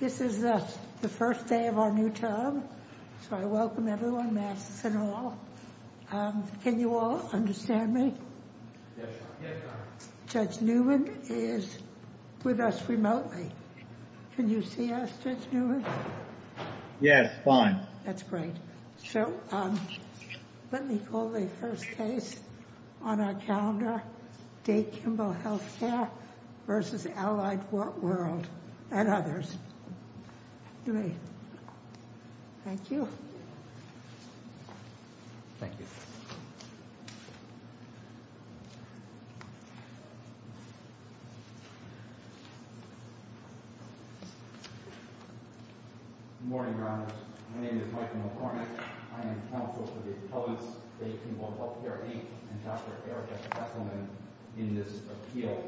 This is the first day of our new term, so I welcome everyone, masks and all. Can you all understand me? Judge Newman is with us remotely. Can you see us, Judge Newman? Yes, fine. That's great. So, let me call the first case on our calendar, Day Kimball Healthcare v. Allied World and others. Thank you. Thank you. Good morning, Your Honor. My name is Michael McCormick. I am counsel for the public's Day Kimball Healthcare, Inc. and Dr. Erica Hesselman in this appeal.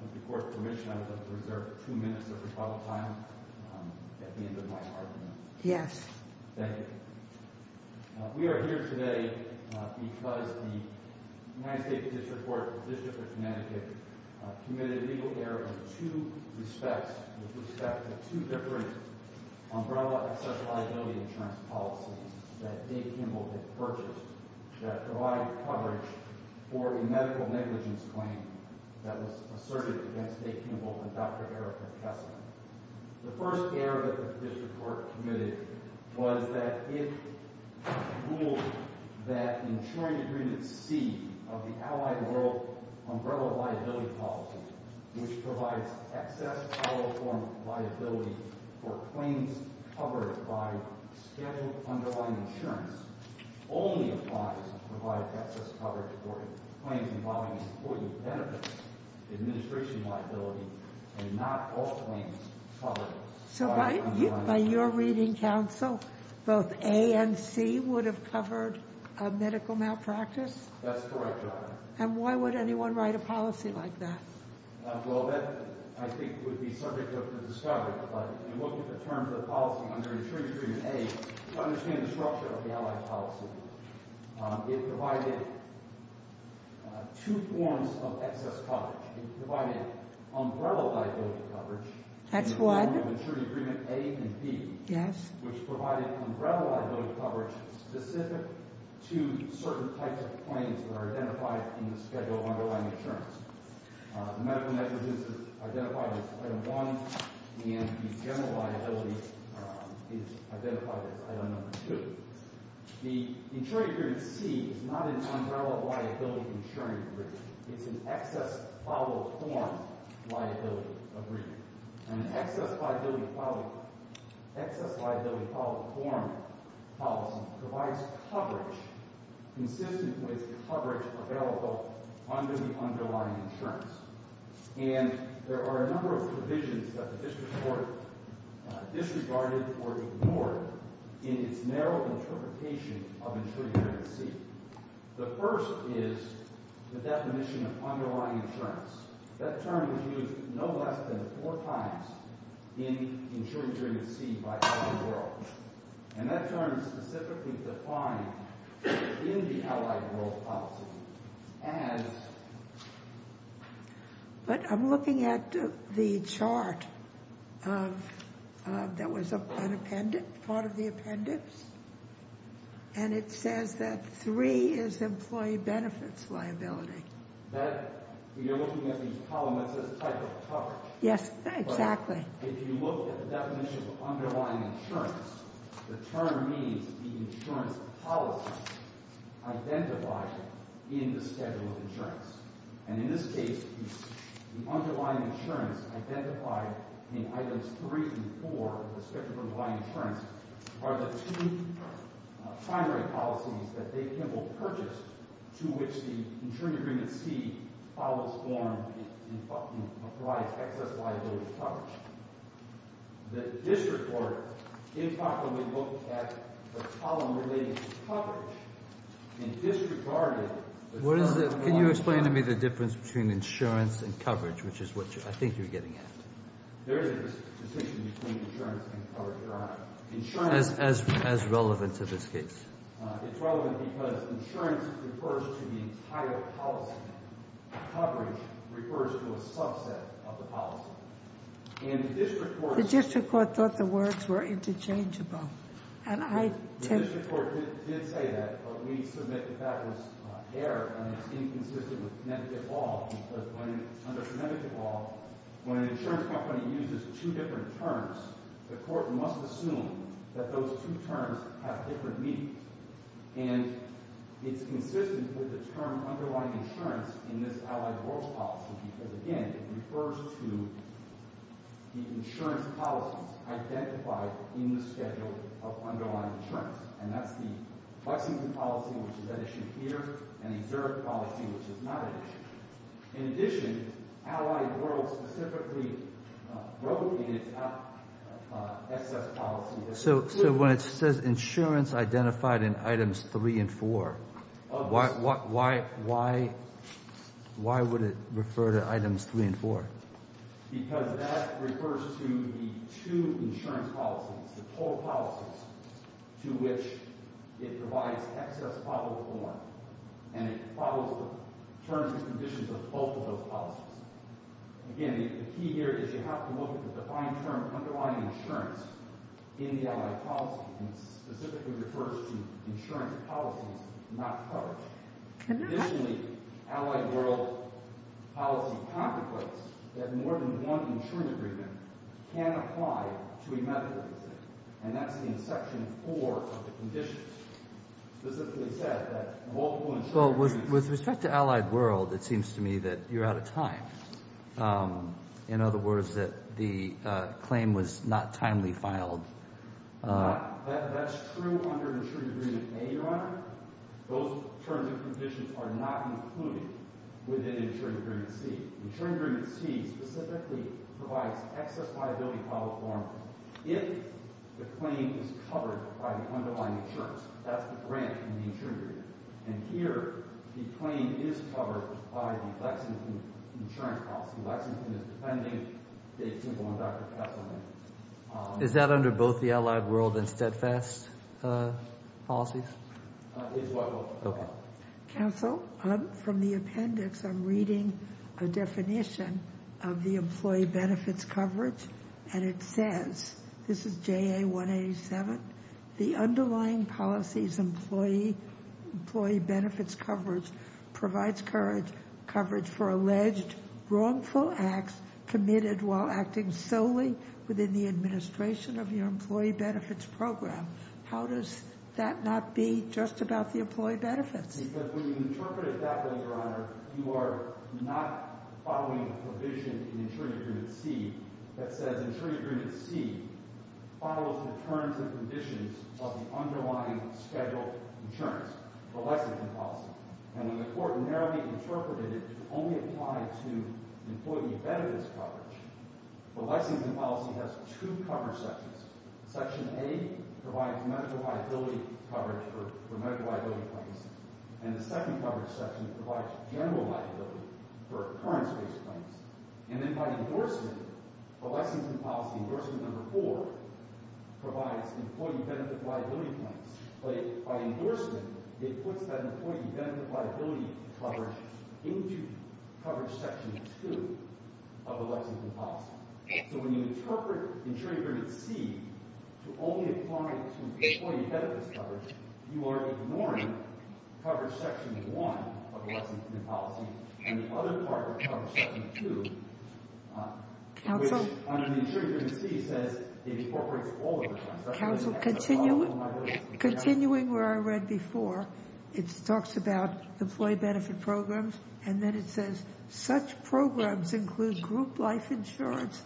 With the court's permission, I would like to reserve two minutes of rebuttal time at the end of my argument. Yes. Thank you. We are here today because the United States District Court of the District of Connecticut committed a legal error in two respects with respect to two different umbrella access liability insurance policies that Day Kimball had purchased that provided coverage for a medical negligence claim that was asserted against Day Kimball and Dr. Erica Hesselman. The first error that the district court committed was that it ruled that the insuring agreement C of the Allied World umbrella liability policy, which provides excess telephone liability for claims covered by scheduled underlying insurance, only applies to provide excess coverage for claims involving employee benefits, administration liability, and not all claims covered by the underlying insurance. So by your reading, counsel, both A and C would have covered a medical malpractice? That's correct, Your Honor. And why would anyone write a policy like that? Well, that, I think, would be subject to discovery. But you look at the terms of the policy under insuring agreement A, you understand the structure of the Allied policy. It provided two forms of excess coverage. It provided umbrella liability coverage. That's what? In terms of insuring agreement A and B. Yes. Which provided umbrella liability coverage specific to certain types of claims that are identified in the schedule of underlying insurance. Medical negligence is identified as item one, and general liability is identified as item number two. The insuring agreement C is not an umbrella liability insuring agreement. It's an excess-followed-form liability agreement. An excess-followed-form policy provides coverage consistent with the coverage available under the underlying insurance. And there are a number of provisions that the district court disregarded or ignored in its narrow interpretation of insuring agreement C. The first is the definition of underlying insurance. That term was used no less than four times in insuring agreement C by Allied World. And that term is specifically defined in the Allied World policy as... But I'm looking at the chart that was an appendix, part of the appendix, and it says that three is employee benefits liability. That, you're looking at the column that says type of coverage. Yes, exactly. If you look at the definition of underlying insurance, the term means the insurance policy identified in the schedule of insurance. And in this case, the underlying insurance identified in items three and four of the schedule of underlying insurance are the two primary policies that Dave Kimball purchased to which the insuring agreement C follows form and provides excess liability coverage. The district court improperly looked at the column related to coverage and disregarded... Can you explain to me the difference between insurance and coverage, which is what I think you're getting at? There is a distinction between insurance and coverage, Your Honor. Insurance... As relevant to this case. It's relevant because insurance refers to the entire policy. Coverage refers to a subset of the policy. And the district court... The district court thought the words were interchangeable, and I... The district court did say that, but we submit that that was error, and it's inconsistent with Connecticut law. Because when... Under Connecticut law, when an insurance company uses two different terms, the court must assume that those two terms have different meanings. And it's consistent with the term underlying insurance in this Allied Worlds policy because, again, it refers to the insurance policies identified in the schedule of underlying insurance. And that's the Buxington policy, which is at issue here, and the Zurich policy, which is not at issue. In addition, Allied Worlds specifically wrote in its excess policy... So when it says insurance identified in items three and four, why would it refer to items three and four? Because that refers to the two insurance policies, the four policies, to which it provides excess probable warrant. And it follows the terms and conditions of both of those policies. Again, the key here is you have to look at the defined term underlying insurance in the Allied Policy, and specifically refers to insurance policies not covered. Additionally, Allied World policy contemplates that more than one insurance agreement can apply to a medical visit, and that's in section four of the conditions. Specifically said that multiple insurance... Well, with respect to Allied World, it seems to me that you're out of time. In other words, that the claim was not timely filed. That's true under insurance agreement A, Your Honor. Those terms and conditions are not included within insurance agreement C. C specifically provides excess liability probable warrant if the claim is covered by the underlying insurance. That's the grant in the insurance agreement. And here, the claim is covered by the Lexington insurance policy. Lexington is defending Dave Simple and Dr. Kesselman. Is that under both the Allied World and steadfast policies? It's what... Okay. Counsel, from the appendix, I'm reading a definition of the employee benefits coverage, and it says... This is JA 187. The underlying policies employee benefits coverage provides coverage for alleged wrongful acts committed while acting solely within the administration of your employee benefits program. How does that not be just about the employee benefits? Because when you interpret it that way, Your Honor, you are not following a provision in insurance agreement C that says... Insurance agreement C follows the terms and conditions of the underlying scheduled insurance, the Lexington policy. And when the court narrowly interpreted it to only apply to employee benefits coverage, the Lexington policy has two cover sections. Section A provides medical liability coverage for medical liability claims. And the second coverage section provides general liability for occurrence-based claims. And then by endorsement, the Lexington policy, endorsement number four, provides employee benefit liability claims. But by endorsement, it puts that employee benefit liability coverage into coverage section two of the Lexington policy. So when you interpret insurance agreement C to only apply to employee benefits coverage, you are ignoring coverage section one of the Lexington policy, and the other part of coverage section two, which under the insurance agreement C, says it incorporates all of the terms. Counsel, continuing where I read before, it talks about employee benefit programs, and then it says such programs include group life insurance,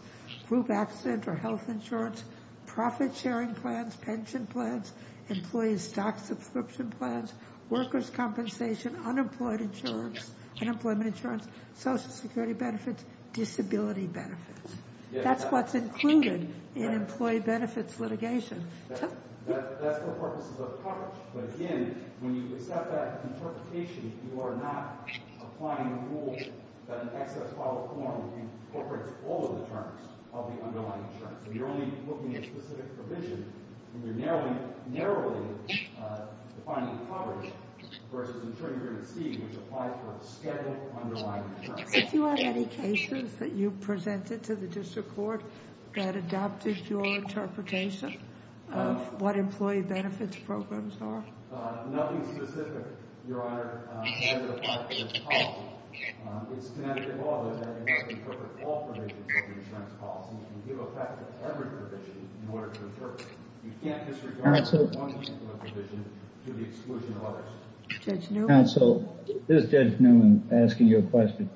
group accident or health insurance, profit sharing plans, pension plans, employee stock subscription plans, workers' compensation, unemployment insurance, Social Security benefits, disability benefits. That's what's included in employee benefits litigation. That's for purposes of coverage. But again, when you accept that interpretation, you are not applying the rule that an excess file form incorporates all of the terms of the underlying insurance. So you're only looking at specific provision, and you're narrowly defining coverage versus insurance agreement C, which applies for scheduled underlying insurance. Counsel, did you have any cases that you presented to the district court that adopted your interpretation of what employee benefits programs are? Nothing specific, Your Honor, as it applies to this policy. It's Connecticut law that it must incorporate all provisions of the insurance policy and give effect to every provision in order to interpret it. You can't disregard one provision to the exclusion of others. Judge Newman? Counsel, this is Judge Newman asking you a question.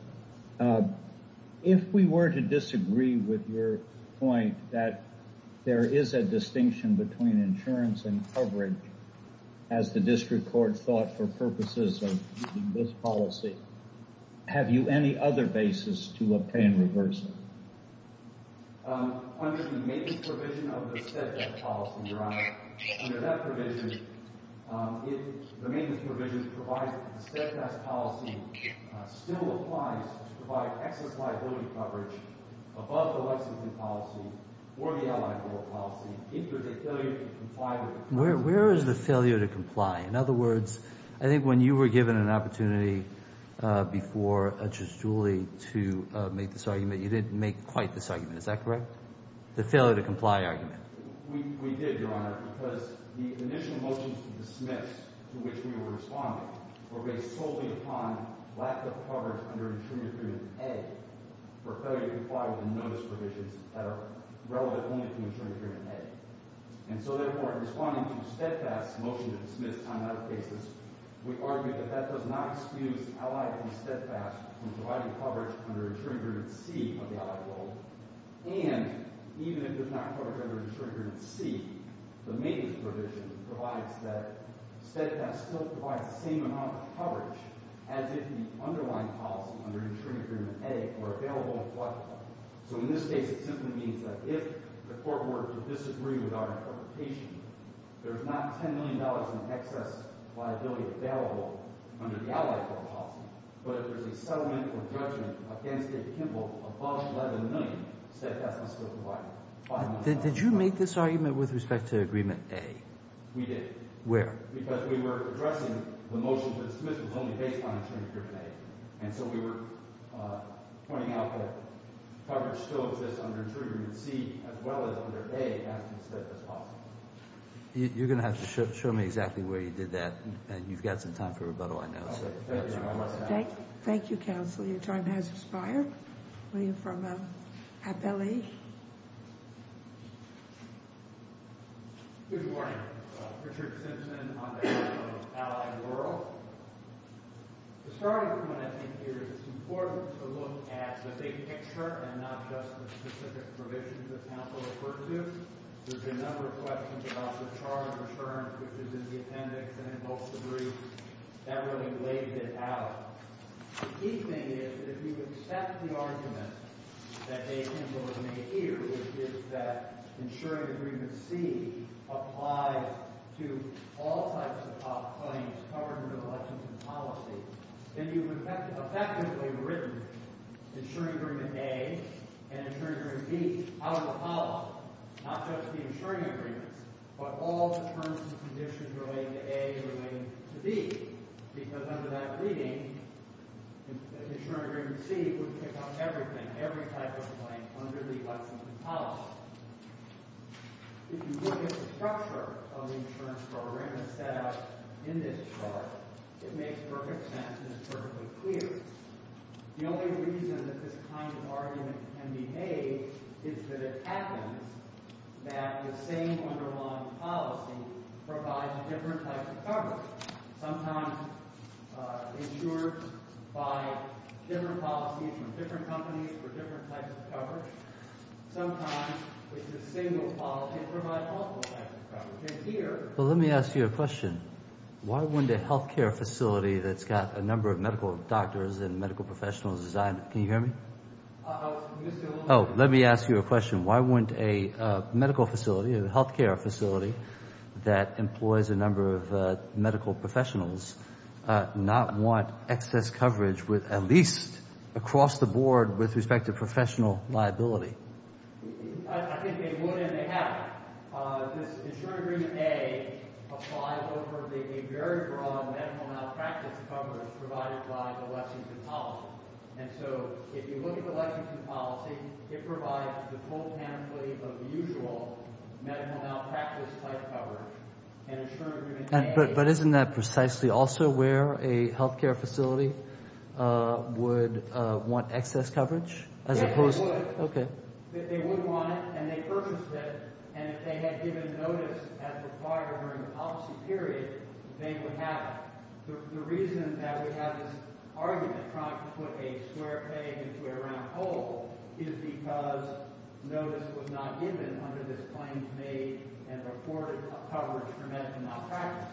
If we were to disagree with your point that there is a distinction between insurance and coverage, as the district court thought for purposes of this policy, have you any other basis to obtain reversal? Under the maintenance provision of the steadfast policy, Your Honor, under that provision, if the maintenance provision provides that the steadfast policy still applies to provide excess liability coverage above the Lexington policy or the Allied Board policy, if there's a failure to comply with it. Where is the failure to comply? In other words, I think when you were given an opportunity before Judge Julie to make this argument, you didn't make quite this argument. Is that correct? The failure to comply argument. We did, Your Honor, because the initial motions to dismiss to which we were responding were based solely upon lack of coverage under insurance agreement A for failure to comply with the notice provisions that are relevant only to insurance agreement A. And so, therefore, in responding to steadfast motion to dismiss on other cases, we argue that that does not excuse Allied and steadfast from providing coverage under insurance agreement C of the Allied Board. And even if it does not cover under insurance agreement C, the maintenance provision provides that steadfast still provides the same amount of coverage as if the underlying policy under insurance agreement A were available to comply with. So in this case, it simply means that if the court were to disagree with our interpretation, there's not $10 million in excess liability available under the Allied Board policy, but if there's a settlement or judgment against Dave Kimball of $11 million, steadfastness still provides. Did you make this argument with respect to agreement A? We did. Where? Because we were addressing the motion to dismiss was only based on insurance agreement A. And so we were pointing out that coverage still exists under insurance agreement C as well as under A as considered as possible. You're going to have to show me exactly where you did that. And you've got some time for rebuttal, I know. Thank you, Counsel. Your time has expired. Were you from Appellee? Good morning. Richard Simpson on behalf of Allied World. Starting from what I think here is it's important to look at the big picture and not just the specific provisions that counsel referred to. There's been a number of questions about the charge of insurance, which is in the appendix and in both the briefs. That really laid it out. The key thing is that if you accept the argument that Dave Kimball has made here, which is that insurance agreement C applies to all types of claims covered under the Lexington policy, then you've effectively written insurance agreement A and insurance agreement B out of the policy, not just the insurance agreements, but all terms and conditions relating to A and relating to B. Because under that reading, the insurance agreement C would pick up everything, every type of claim under the Lexington policy. If you look at the structure of the insurance program as set out in this chart, it makes perfect sense and it's perfectly clear. The only reason that this kind of argument can be made is that it happens that the same underlying policy provides different types of coverage. Sometimes insurers buy different policies from different companies for different types of coverage. Sometimes it's a single policy that provides multiple types of coverage. Let me ask you a question. Why wouldn't a healthcare facility that's got a number of medical doctors and medical professionals designed it? Can you hear me? Let me ask you a question. Why wouldn't a medical facility, a healthcare facility that employs a number of medical professionals not want excess coverage with at least across the board with respect to professional liability? I think they would and they haven't. This insurance agreement A applies over a very broad medical malpractice coverage provided by the Lexington policy. And so if you look at the Lexington policy, it provides the full pamphlet of the usual medical malpractice type coverage. But isn't that precisely also where a healthcare facility would want excess coverage? Yes, they would. They would want it and they purchased it. And if they had given notice as required during the policy period, they would have it. The reason that we have this argument trying to put a square peg into a round hole is because notice was not given under this claim to make and report coverage for medical malpractice.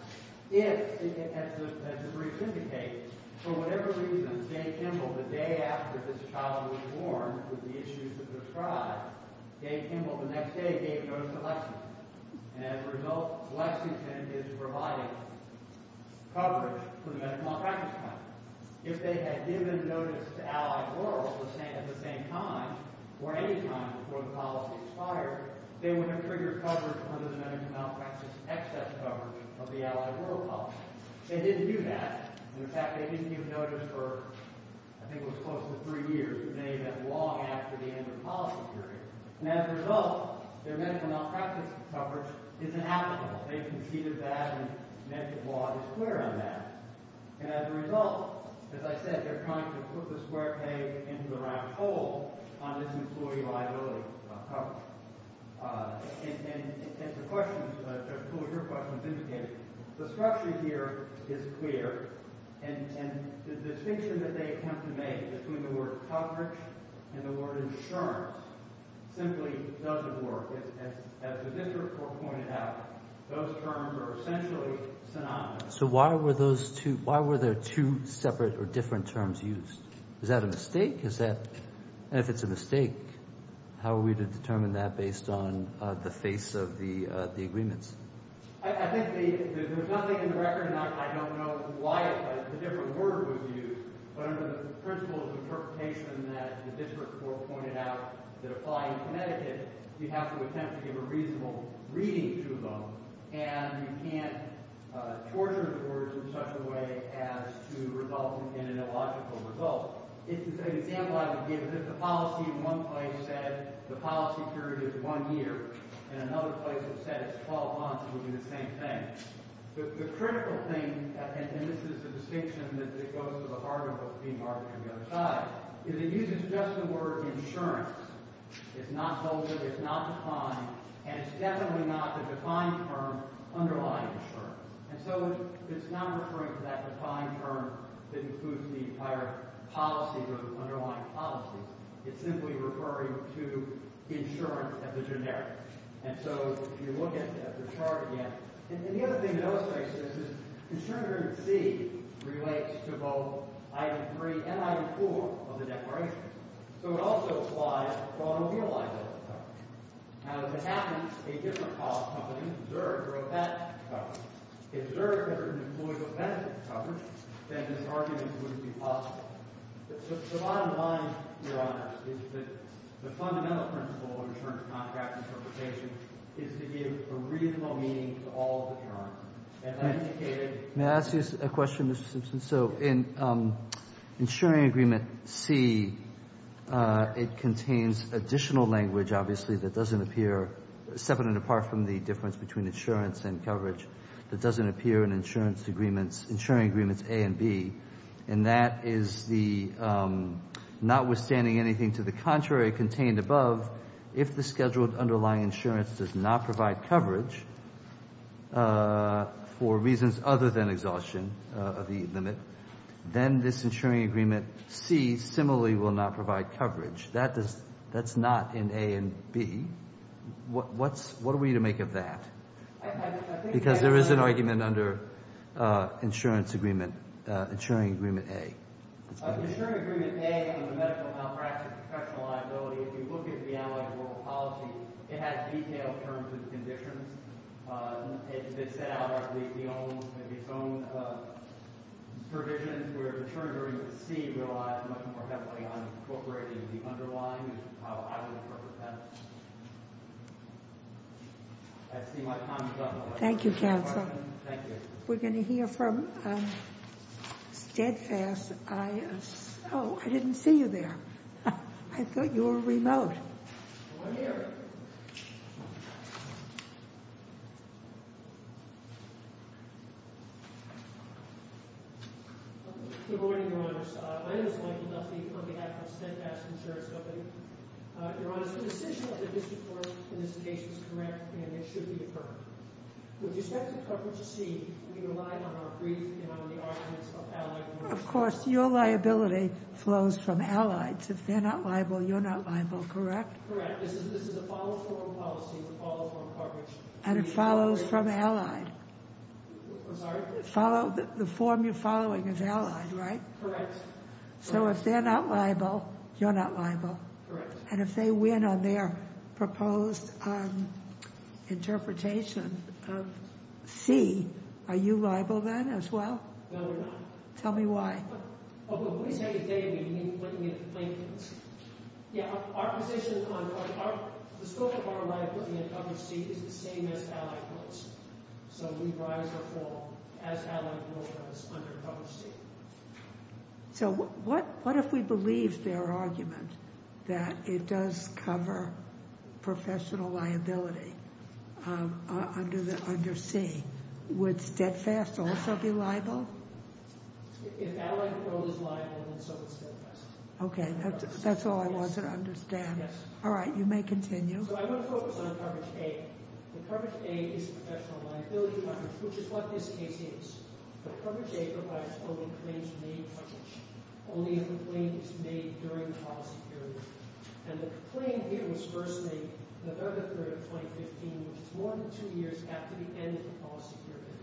If, as the brief indicates, for whatever reason, Dave Kimball, the day after this child was born with the issues of their tribe, Dave Kimball the next day gave notice to Lexington. And as a result, Lexington is providing coverage for the medical malpractice type. If they had given notice to Allied Rural at the same time or any time before the policy expired, they would have triggered coverage under the medical malpractice excess coverage of the Allied Rural policy. They didn't do that. In fact, they didn't give notice for, I think it was close to three years. It may have been long after the end of the policy period. And as a result, their medical malpractice coverage is inapplicable. They conceded that and medical law is clear on that. And as a result, as I said, they're trying to put the square peg into the round hole on this employee liability coverage. And the question, as your question indicated, the structure here is clear. And the distinction that they attempt to make between the word coverage and the word insurance simply doesn't work. As the district court pointed out, those terms are essentially synonymous. So why were there two separate or different terms used? Is that a mistake? And if it's a mistake, how are we to determine that based on the face of the agreements? I think there's nothing in the record, and I don't know why the different word was used. But under the principles of interpretation that the district court pointed out that apply in Connecticut, you have to attempt to give a reasonable reading to them. And you can't torture the words in such a way as to result in an illogical result. It's an example I would give. If the policy in one place said the policy period is one year, in another place it said it's 12 months, it would be the same thing. The critical thing, and this is the distinction that goes to the article being marked on the other side, is it uses just the word insurance. It's not bolded. It's not defined. And it's definitely not the defined term underlying insurance. And so it's not referring to that defined term that includes the entire policy or the underlying policy. It's simply referring to insurance as a generic. And so if you look at the chart again, and the other thing that illustrates this is that insurance under C relates to both item 3 and item 4 of the declaration. So it also applies to automobile liability coverage. Now, if it happens a different cost company, Zerg, wrote that coverage. If Zerg had been employed with benefits coverage, then this argument wouldn't be possible. But the bottom line, Your Honor, is that the fundamental principle of insurance contract interpretation is to give a reasonable meaning to all of the terms. May I ask you a question, Mr. Simpson? So in insuring agreement C, it contains additional language, obviously, that doesn't appear, separate and apart from the difference between insurance and coverage, that doesn't appear in insuring agreements A and B. And that is the notwithstanding anything to the contrary contained above, if the scheduled underlying insurance does not provide coverage for reasons other than exhaustion of the limit, then this insuring agreement C similarly will not provide coverage. That's not in A and B. What are we to make of that? Because there is an argument under insurance agreement, insuring agreement A. Insuring agreement A on the medical malpractice of professional liability, if you look at the analog of world policy, it has detailed terms and conditions. It set out its own provisions where insuring agreement C relies much more heavily on incorporating the underlying, I see my time is up. Thank you, counsel. Thank you. We're going to hear from Steadfast. Oh, I didn't see you there. I thought you were remote. I'm here. Good morning, Your Honors. My name is Michael Duffy on behalf of Steadfast Insurance Company. Your Honors, the decision of the district court in this case is correct, and it should be deferred. With respect to coverage C, we relied on our brief and on the arguments of allies. Of course, your liability flows from allies. If they're not liable, you're not liable, correct? Correct. This is a follow-form policy with follow-form coverage. And it follows from allied. I'm sorry? The form you're following is allied, right? Correct. So if they're not liable, you're not liable. Correct. And if they win on their proposed interpretation of C, are you liable then as well? No, we're not. Tell me why. Well, when we say they, we mean what we think. Yeah, our position on the scope of our liability in coverage C is the same as allied rules. So we rise or fall as allied rule does under coverage C. So what if we believe their argument that it does cover professional liability under C? Would Steadfast also be liable? If allied rule is liable, then so is Steadfast. Okay, that's all I wanted to understand. Yes. All right, you may continue. So I'm going to focus on coverage A. The coverage A is professional liability coverage, which is what this case is. The coverage A provides only claims made publish. Only if a claim is made during the policy period. And the claim here was first made in the early period of 2015, which is more than two years after the end of the policy period.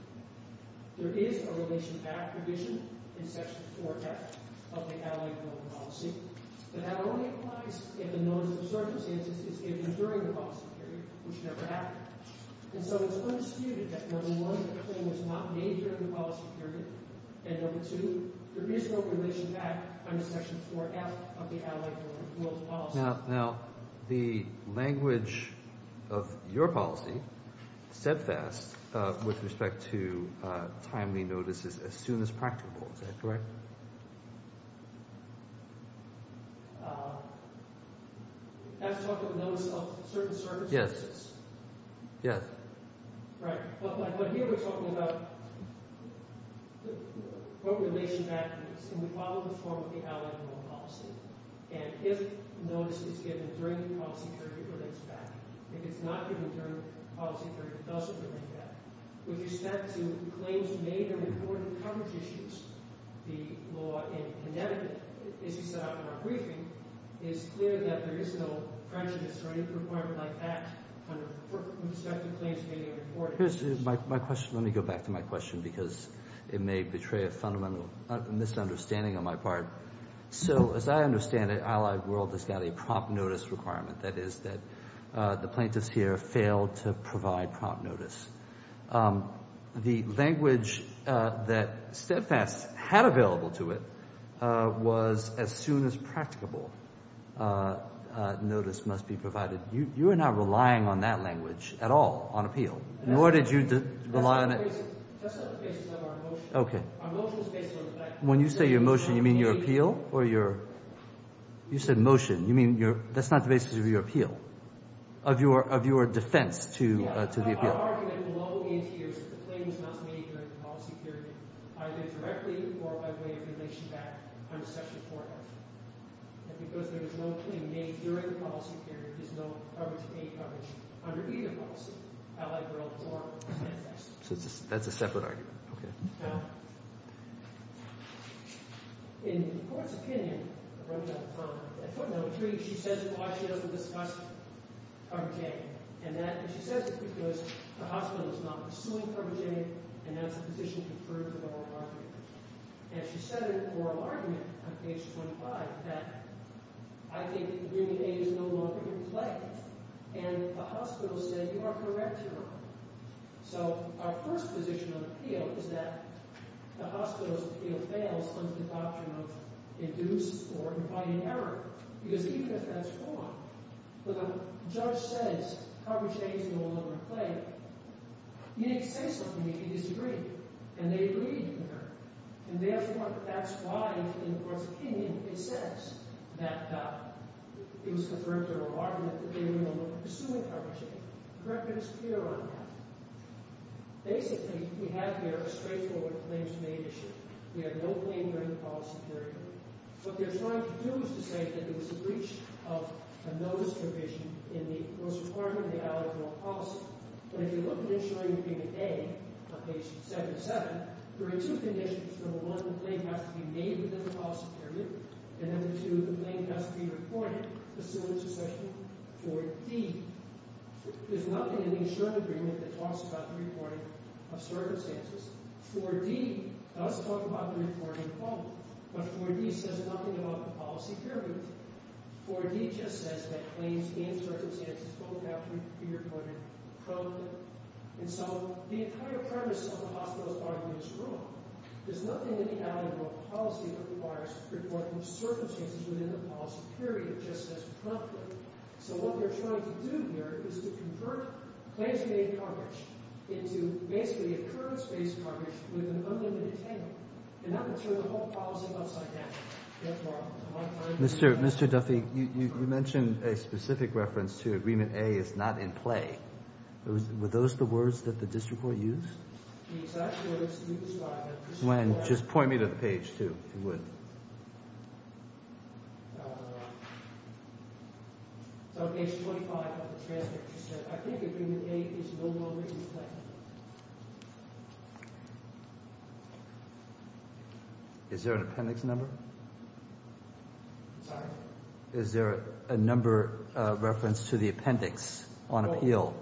There is a relation back provision in section 4F of the allied rule policy. But that only applies if a notice of circumstances is given during the policy period, which never happened. And so it's undisputed that number one, the claim was not made during the policy period. And number two, there is no relation back under section 4F of the allied rule policy. Now, the language of your policy, Steadfast, with respect to timely notices as soon as practical, is that correct? I have to talk about notice of circumstances? Yes. Yes. Right. But here we're talking about what relation back means. And we follow the form of the allied rule policy. And if notice is given during the policy period, it relates back. If it's not given during the policy period, it doesn't relate back. With respect to claims made or reported coverage issues, the law in Connecticut, as you set out in our briefing, is clear that there is no prejudice or any requirement like that with respect to claims made or reported. Here's my question. Let me go back to my question because it may betray a fundamental misunderstanding on my part. So as I understand it, Allied World has got a prompt notice requirement. That is that the plaintiffs here failed to provide prompt notice. The language that Steadfast had available to it was as soon as practicable notice must be provided. You are not relying on that language at all on appeal, nor did you rely on it. That's not the basis of our motion. Okay. Our motion is based on effect. When you say your motion, you mean your appeal or your – you said motion. You mean your – that's not the basis of your appeal, of your defense to the appeal. Yeah. Our argument will always be that the claim is not made during the policy period, either directly or by way of relation back under Section 4F. And because there is no claim made during the policy period, there's no coverage, paid coverage under either policy, Allied World or Steadfast. So that's a separate argument. Okay. Now, in the court's opinion – I'm running out of time – at footnote 3, she says it because she doesn't discuss cover J. And that – and she says it because the hospital is not pursuing cover J, and that's a position conferred to the lower argument. And she said in the oral argument on page 25 that, I think, human aid is no longer in play. And the hospital said you are correct, Your Honor. So our first position of appeal is that the hospital's appeal fails under the doctrine of induced or implied error. Because even if that's wrong, when the judge says cover J is no longer in play, you need to say something if you disagree. And they agree, Your Honor. And therefore, that's why, in the court's opinion, it says that it was conferred to the lower argument that they were no longer pursuing cover J. The correctness here on that – basically, we have here a straightforward claims-made issue. We have no claim during the policy period. What they're trying to do is to say that there was a breach of a notice provision in the Rules of Requirement of the Alleged Oral Policy. But if you look at it, showing it being at A on page 77, there are two conditions. Number one, the claim has to be made within the policy period. And number two, the claim has to be reported, pursuant to section 4D. There's nothing in the Assured Agreement that talks about the reporting of circumstances. 4D does talk about the reporting of both. But 4D says nothing about the policy period. 4D just says that claims and circumstances both have to be reported promptly. And so the entire premise of the hospital's argument is wrong. There's nothing in the Alleged Oral Policy that requires reporting of circumstances within the policy period, just as promptly. So what they're trying to do here is to convert claims-made garbage into basically occurrence-based garbage with an unlimited attainment and not to turn the whole policy upside down. That's wrong. Mr. Duffy, you mentioned a specific reference to Agreement A is not in play. Were those the words that the district court used? The exact words you described. Gwen, just point me to the page, too, if you would. It's on page 25 of the transcript. I think Agreement A is no longer in play. Is there an appendix number? I'm sorry? Is there a number of reference to the appendix on appeal?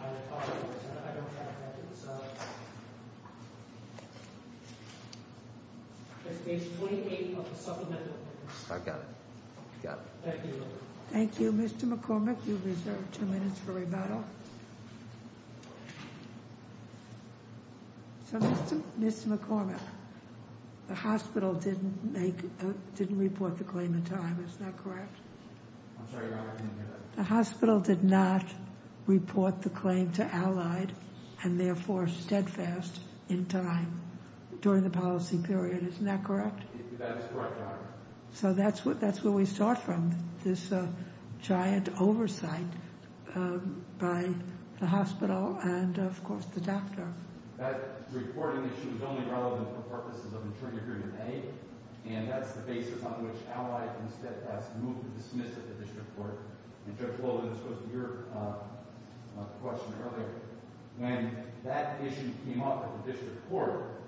I apologize. I don't have an appendix. It's page 28 of the supplemental. I've got it. Thank you. Thank you. Mr. McCormick, you reserve two minutes for rebuttal. So, Mr. McCormick, the hospital didn't report the claim in time. Is that correct? I'm sorry. The hospital did not report the claim to Allied and, therefore, Steadfast in time during the policy period. Isn't that correct? That is correct, Your Honor. So that's where we saw it from, this giant oversight by the hospital and, of course, the doctor. That reporting issue is only relevant for purposes of Interim Agreement A, and that's the basis on which Allied and Steadfast moved to dismiss it at the district court. And, Judge Wolin, this goes to your question earlier. When that issue came up at the district court,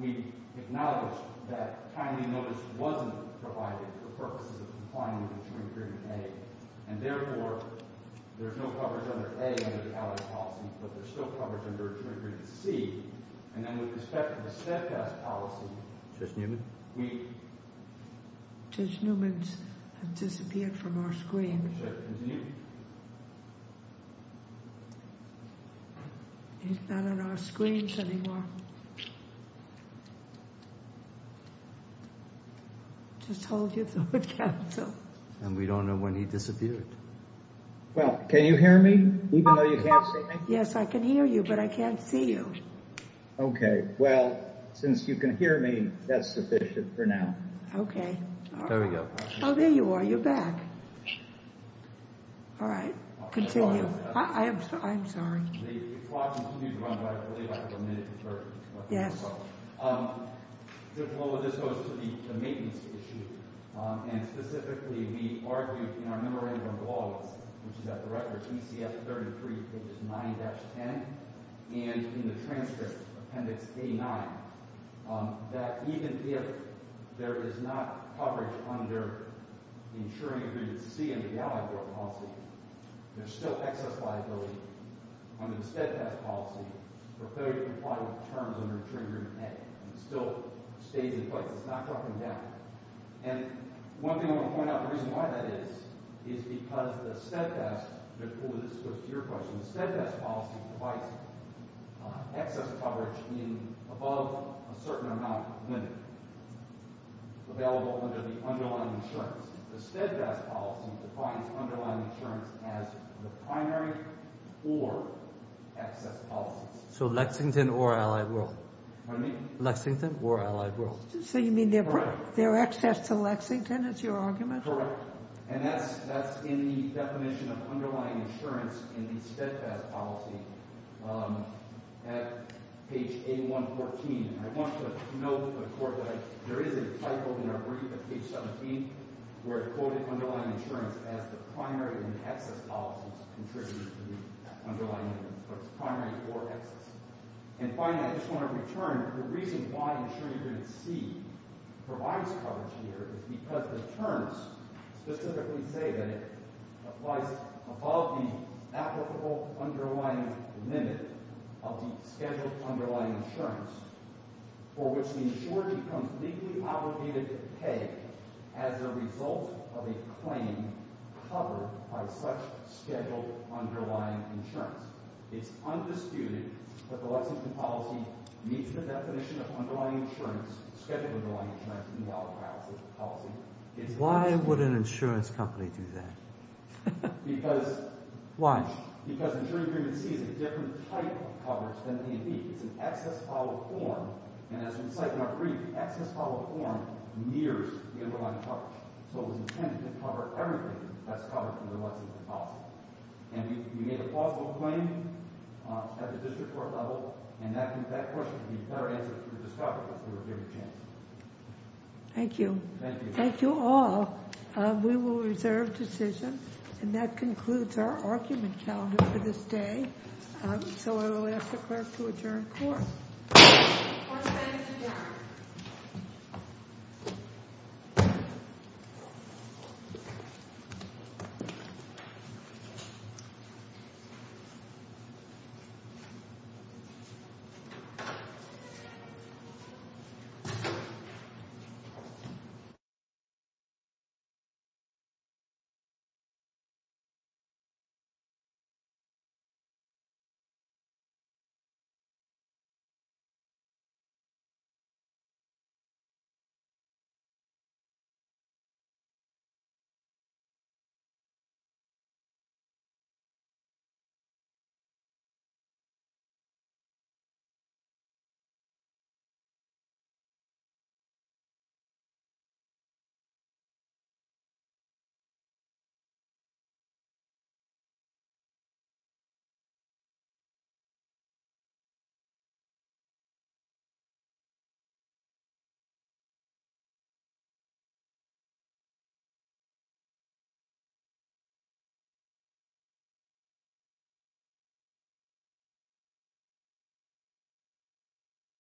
we acknowledged that timely notice wasn't provided for purposes of complying with Interim Agreement A, and, therefore, there's no coverage under A under the Allied policy, but there's still coverage under Interim Agreement C. And then with respect to the Steadfast policy, Judge Newman? Judge Newman has disappeared from our screens. He's not on our screens anymore. Just hold your thought, counsel. And we don't know when he disappeared. Well, can you hear me, even though you can't see me? Yes, I can hear you, but I can't see you. Okay, well, since you can hear me, that's sufficient for now. Okay. There we go. Oh, there you are. You're back. All right. Continue. I'm sorry. The clock continues to run, but I believe I have a minute for questions. Yes. Well, this goes to the maintenance issue, and specifically we argue in our Memorandum of Authority, which is at the record, ECF 33, pages 9-10, and in the transcript, Appendix A-9, that even if there is not coverage under Interim Agreement C under the Allied Court policy, there's still excess liability under the Steadfast policy for failure to comply with terms under Interim Agreement A. It still stays in place. It's not dropping down. And one thing I want to point out, the reason why that is, is because the Steadfast – this goes to your question – the Steadfast policy provides excess coverage in above a certain amount of limit available under the underlying insurance. The Steadfast policy defines underlying insurance as the primary or excess policy. So Lexington or Allied World. Pardon me? Lexington or Allied World. So you mean their access to Lexington is your argument? Correct. And that's in the definition of underlying insurance in the Steadfast policy at page A-114. And I want you to note that there is a typo in our brief at page 17 where it quoted underlying insurance as the primary and excess policies contributing to the underlying limit. So it's primary or excess. And finally, I just want to return, the reason why Interim Agreement C provides coverage here is because the terms specifically say that it applies above the applicable underlying limit of the scheduled underlying insurance for which the insurer becomes legally obligated to pay as a result of a claim covered by such scheduled underlying insurance. It's undisputed that the Lexington policy meets the definition of scheduled underlying insurance in the Lexington policy. Why would an insurance company do that? Why? Because Interim Agreement C is a different type of coverage than A&E. It's an excess follow-up form. And as we cite in our brief, the excess follow-up form mirrors the underlying coverage. So it was intended to cover everything that's covered in the Lexington policy. And you made a plausible claim at the district court level, and that question would be a fair answer to the discoverer, if we were given a chance. Thank you. Thank you. Thank you all. We will reserve decision. And that concludes our argument calendar for this day. So I will ask the clerk to adjourn court. Court is adjourned. Court is adjourned. Court is adjourned.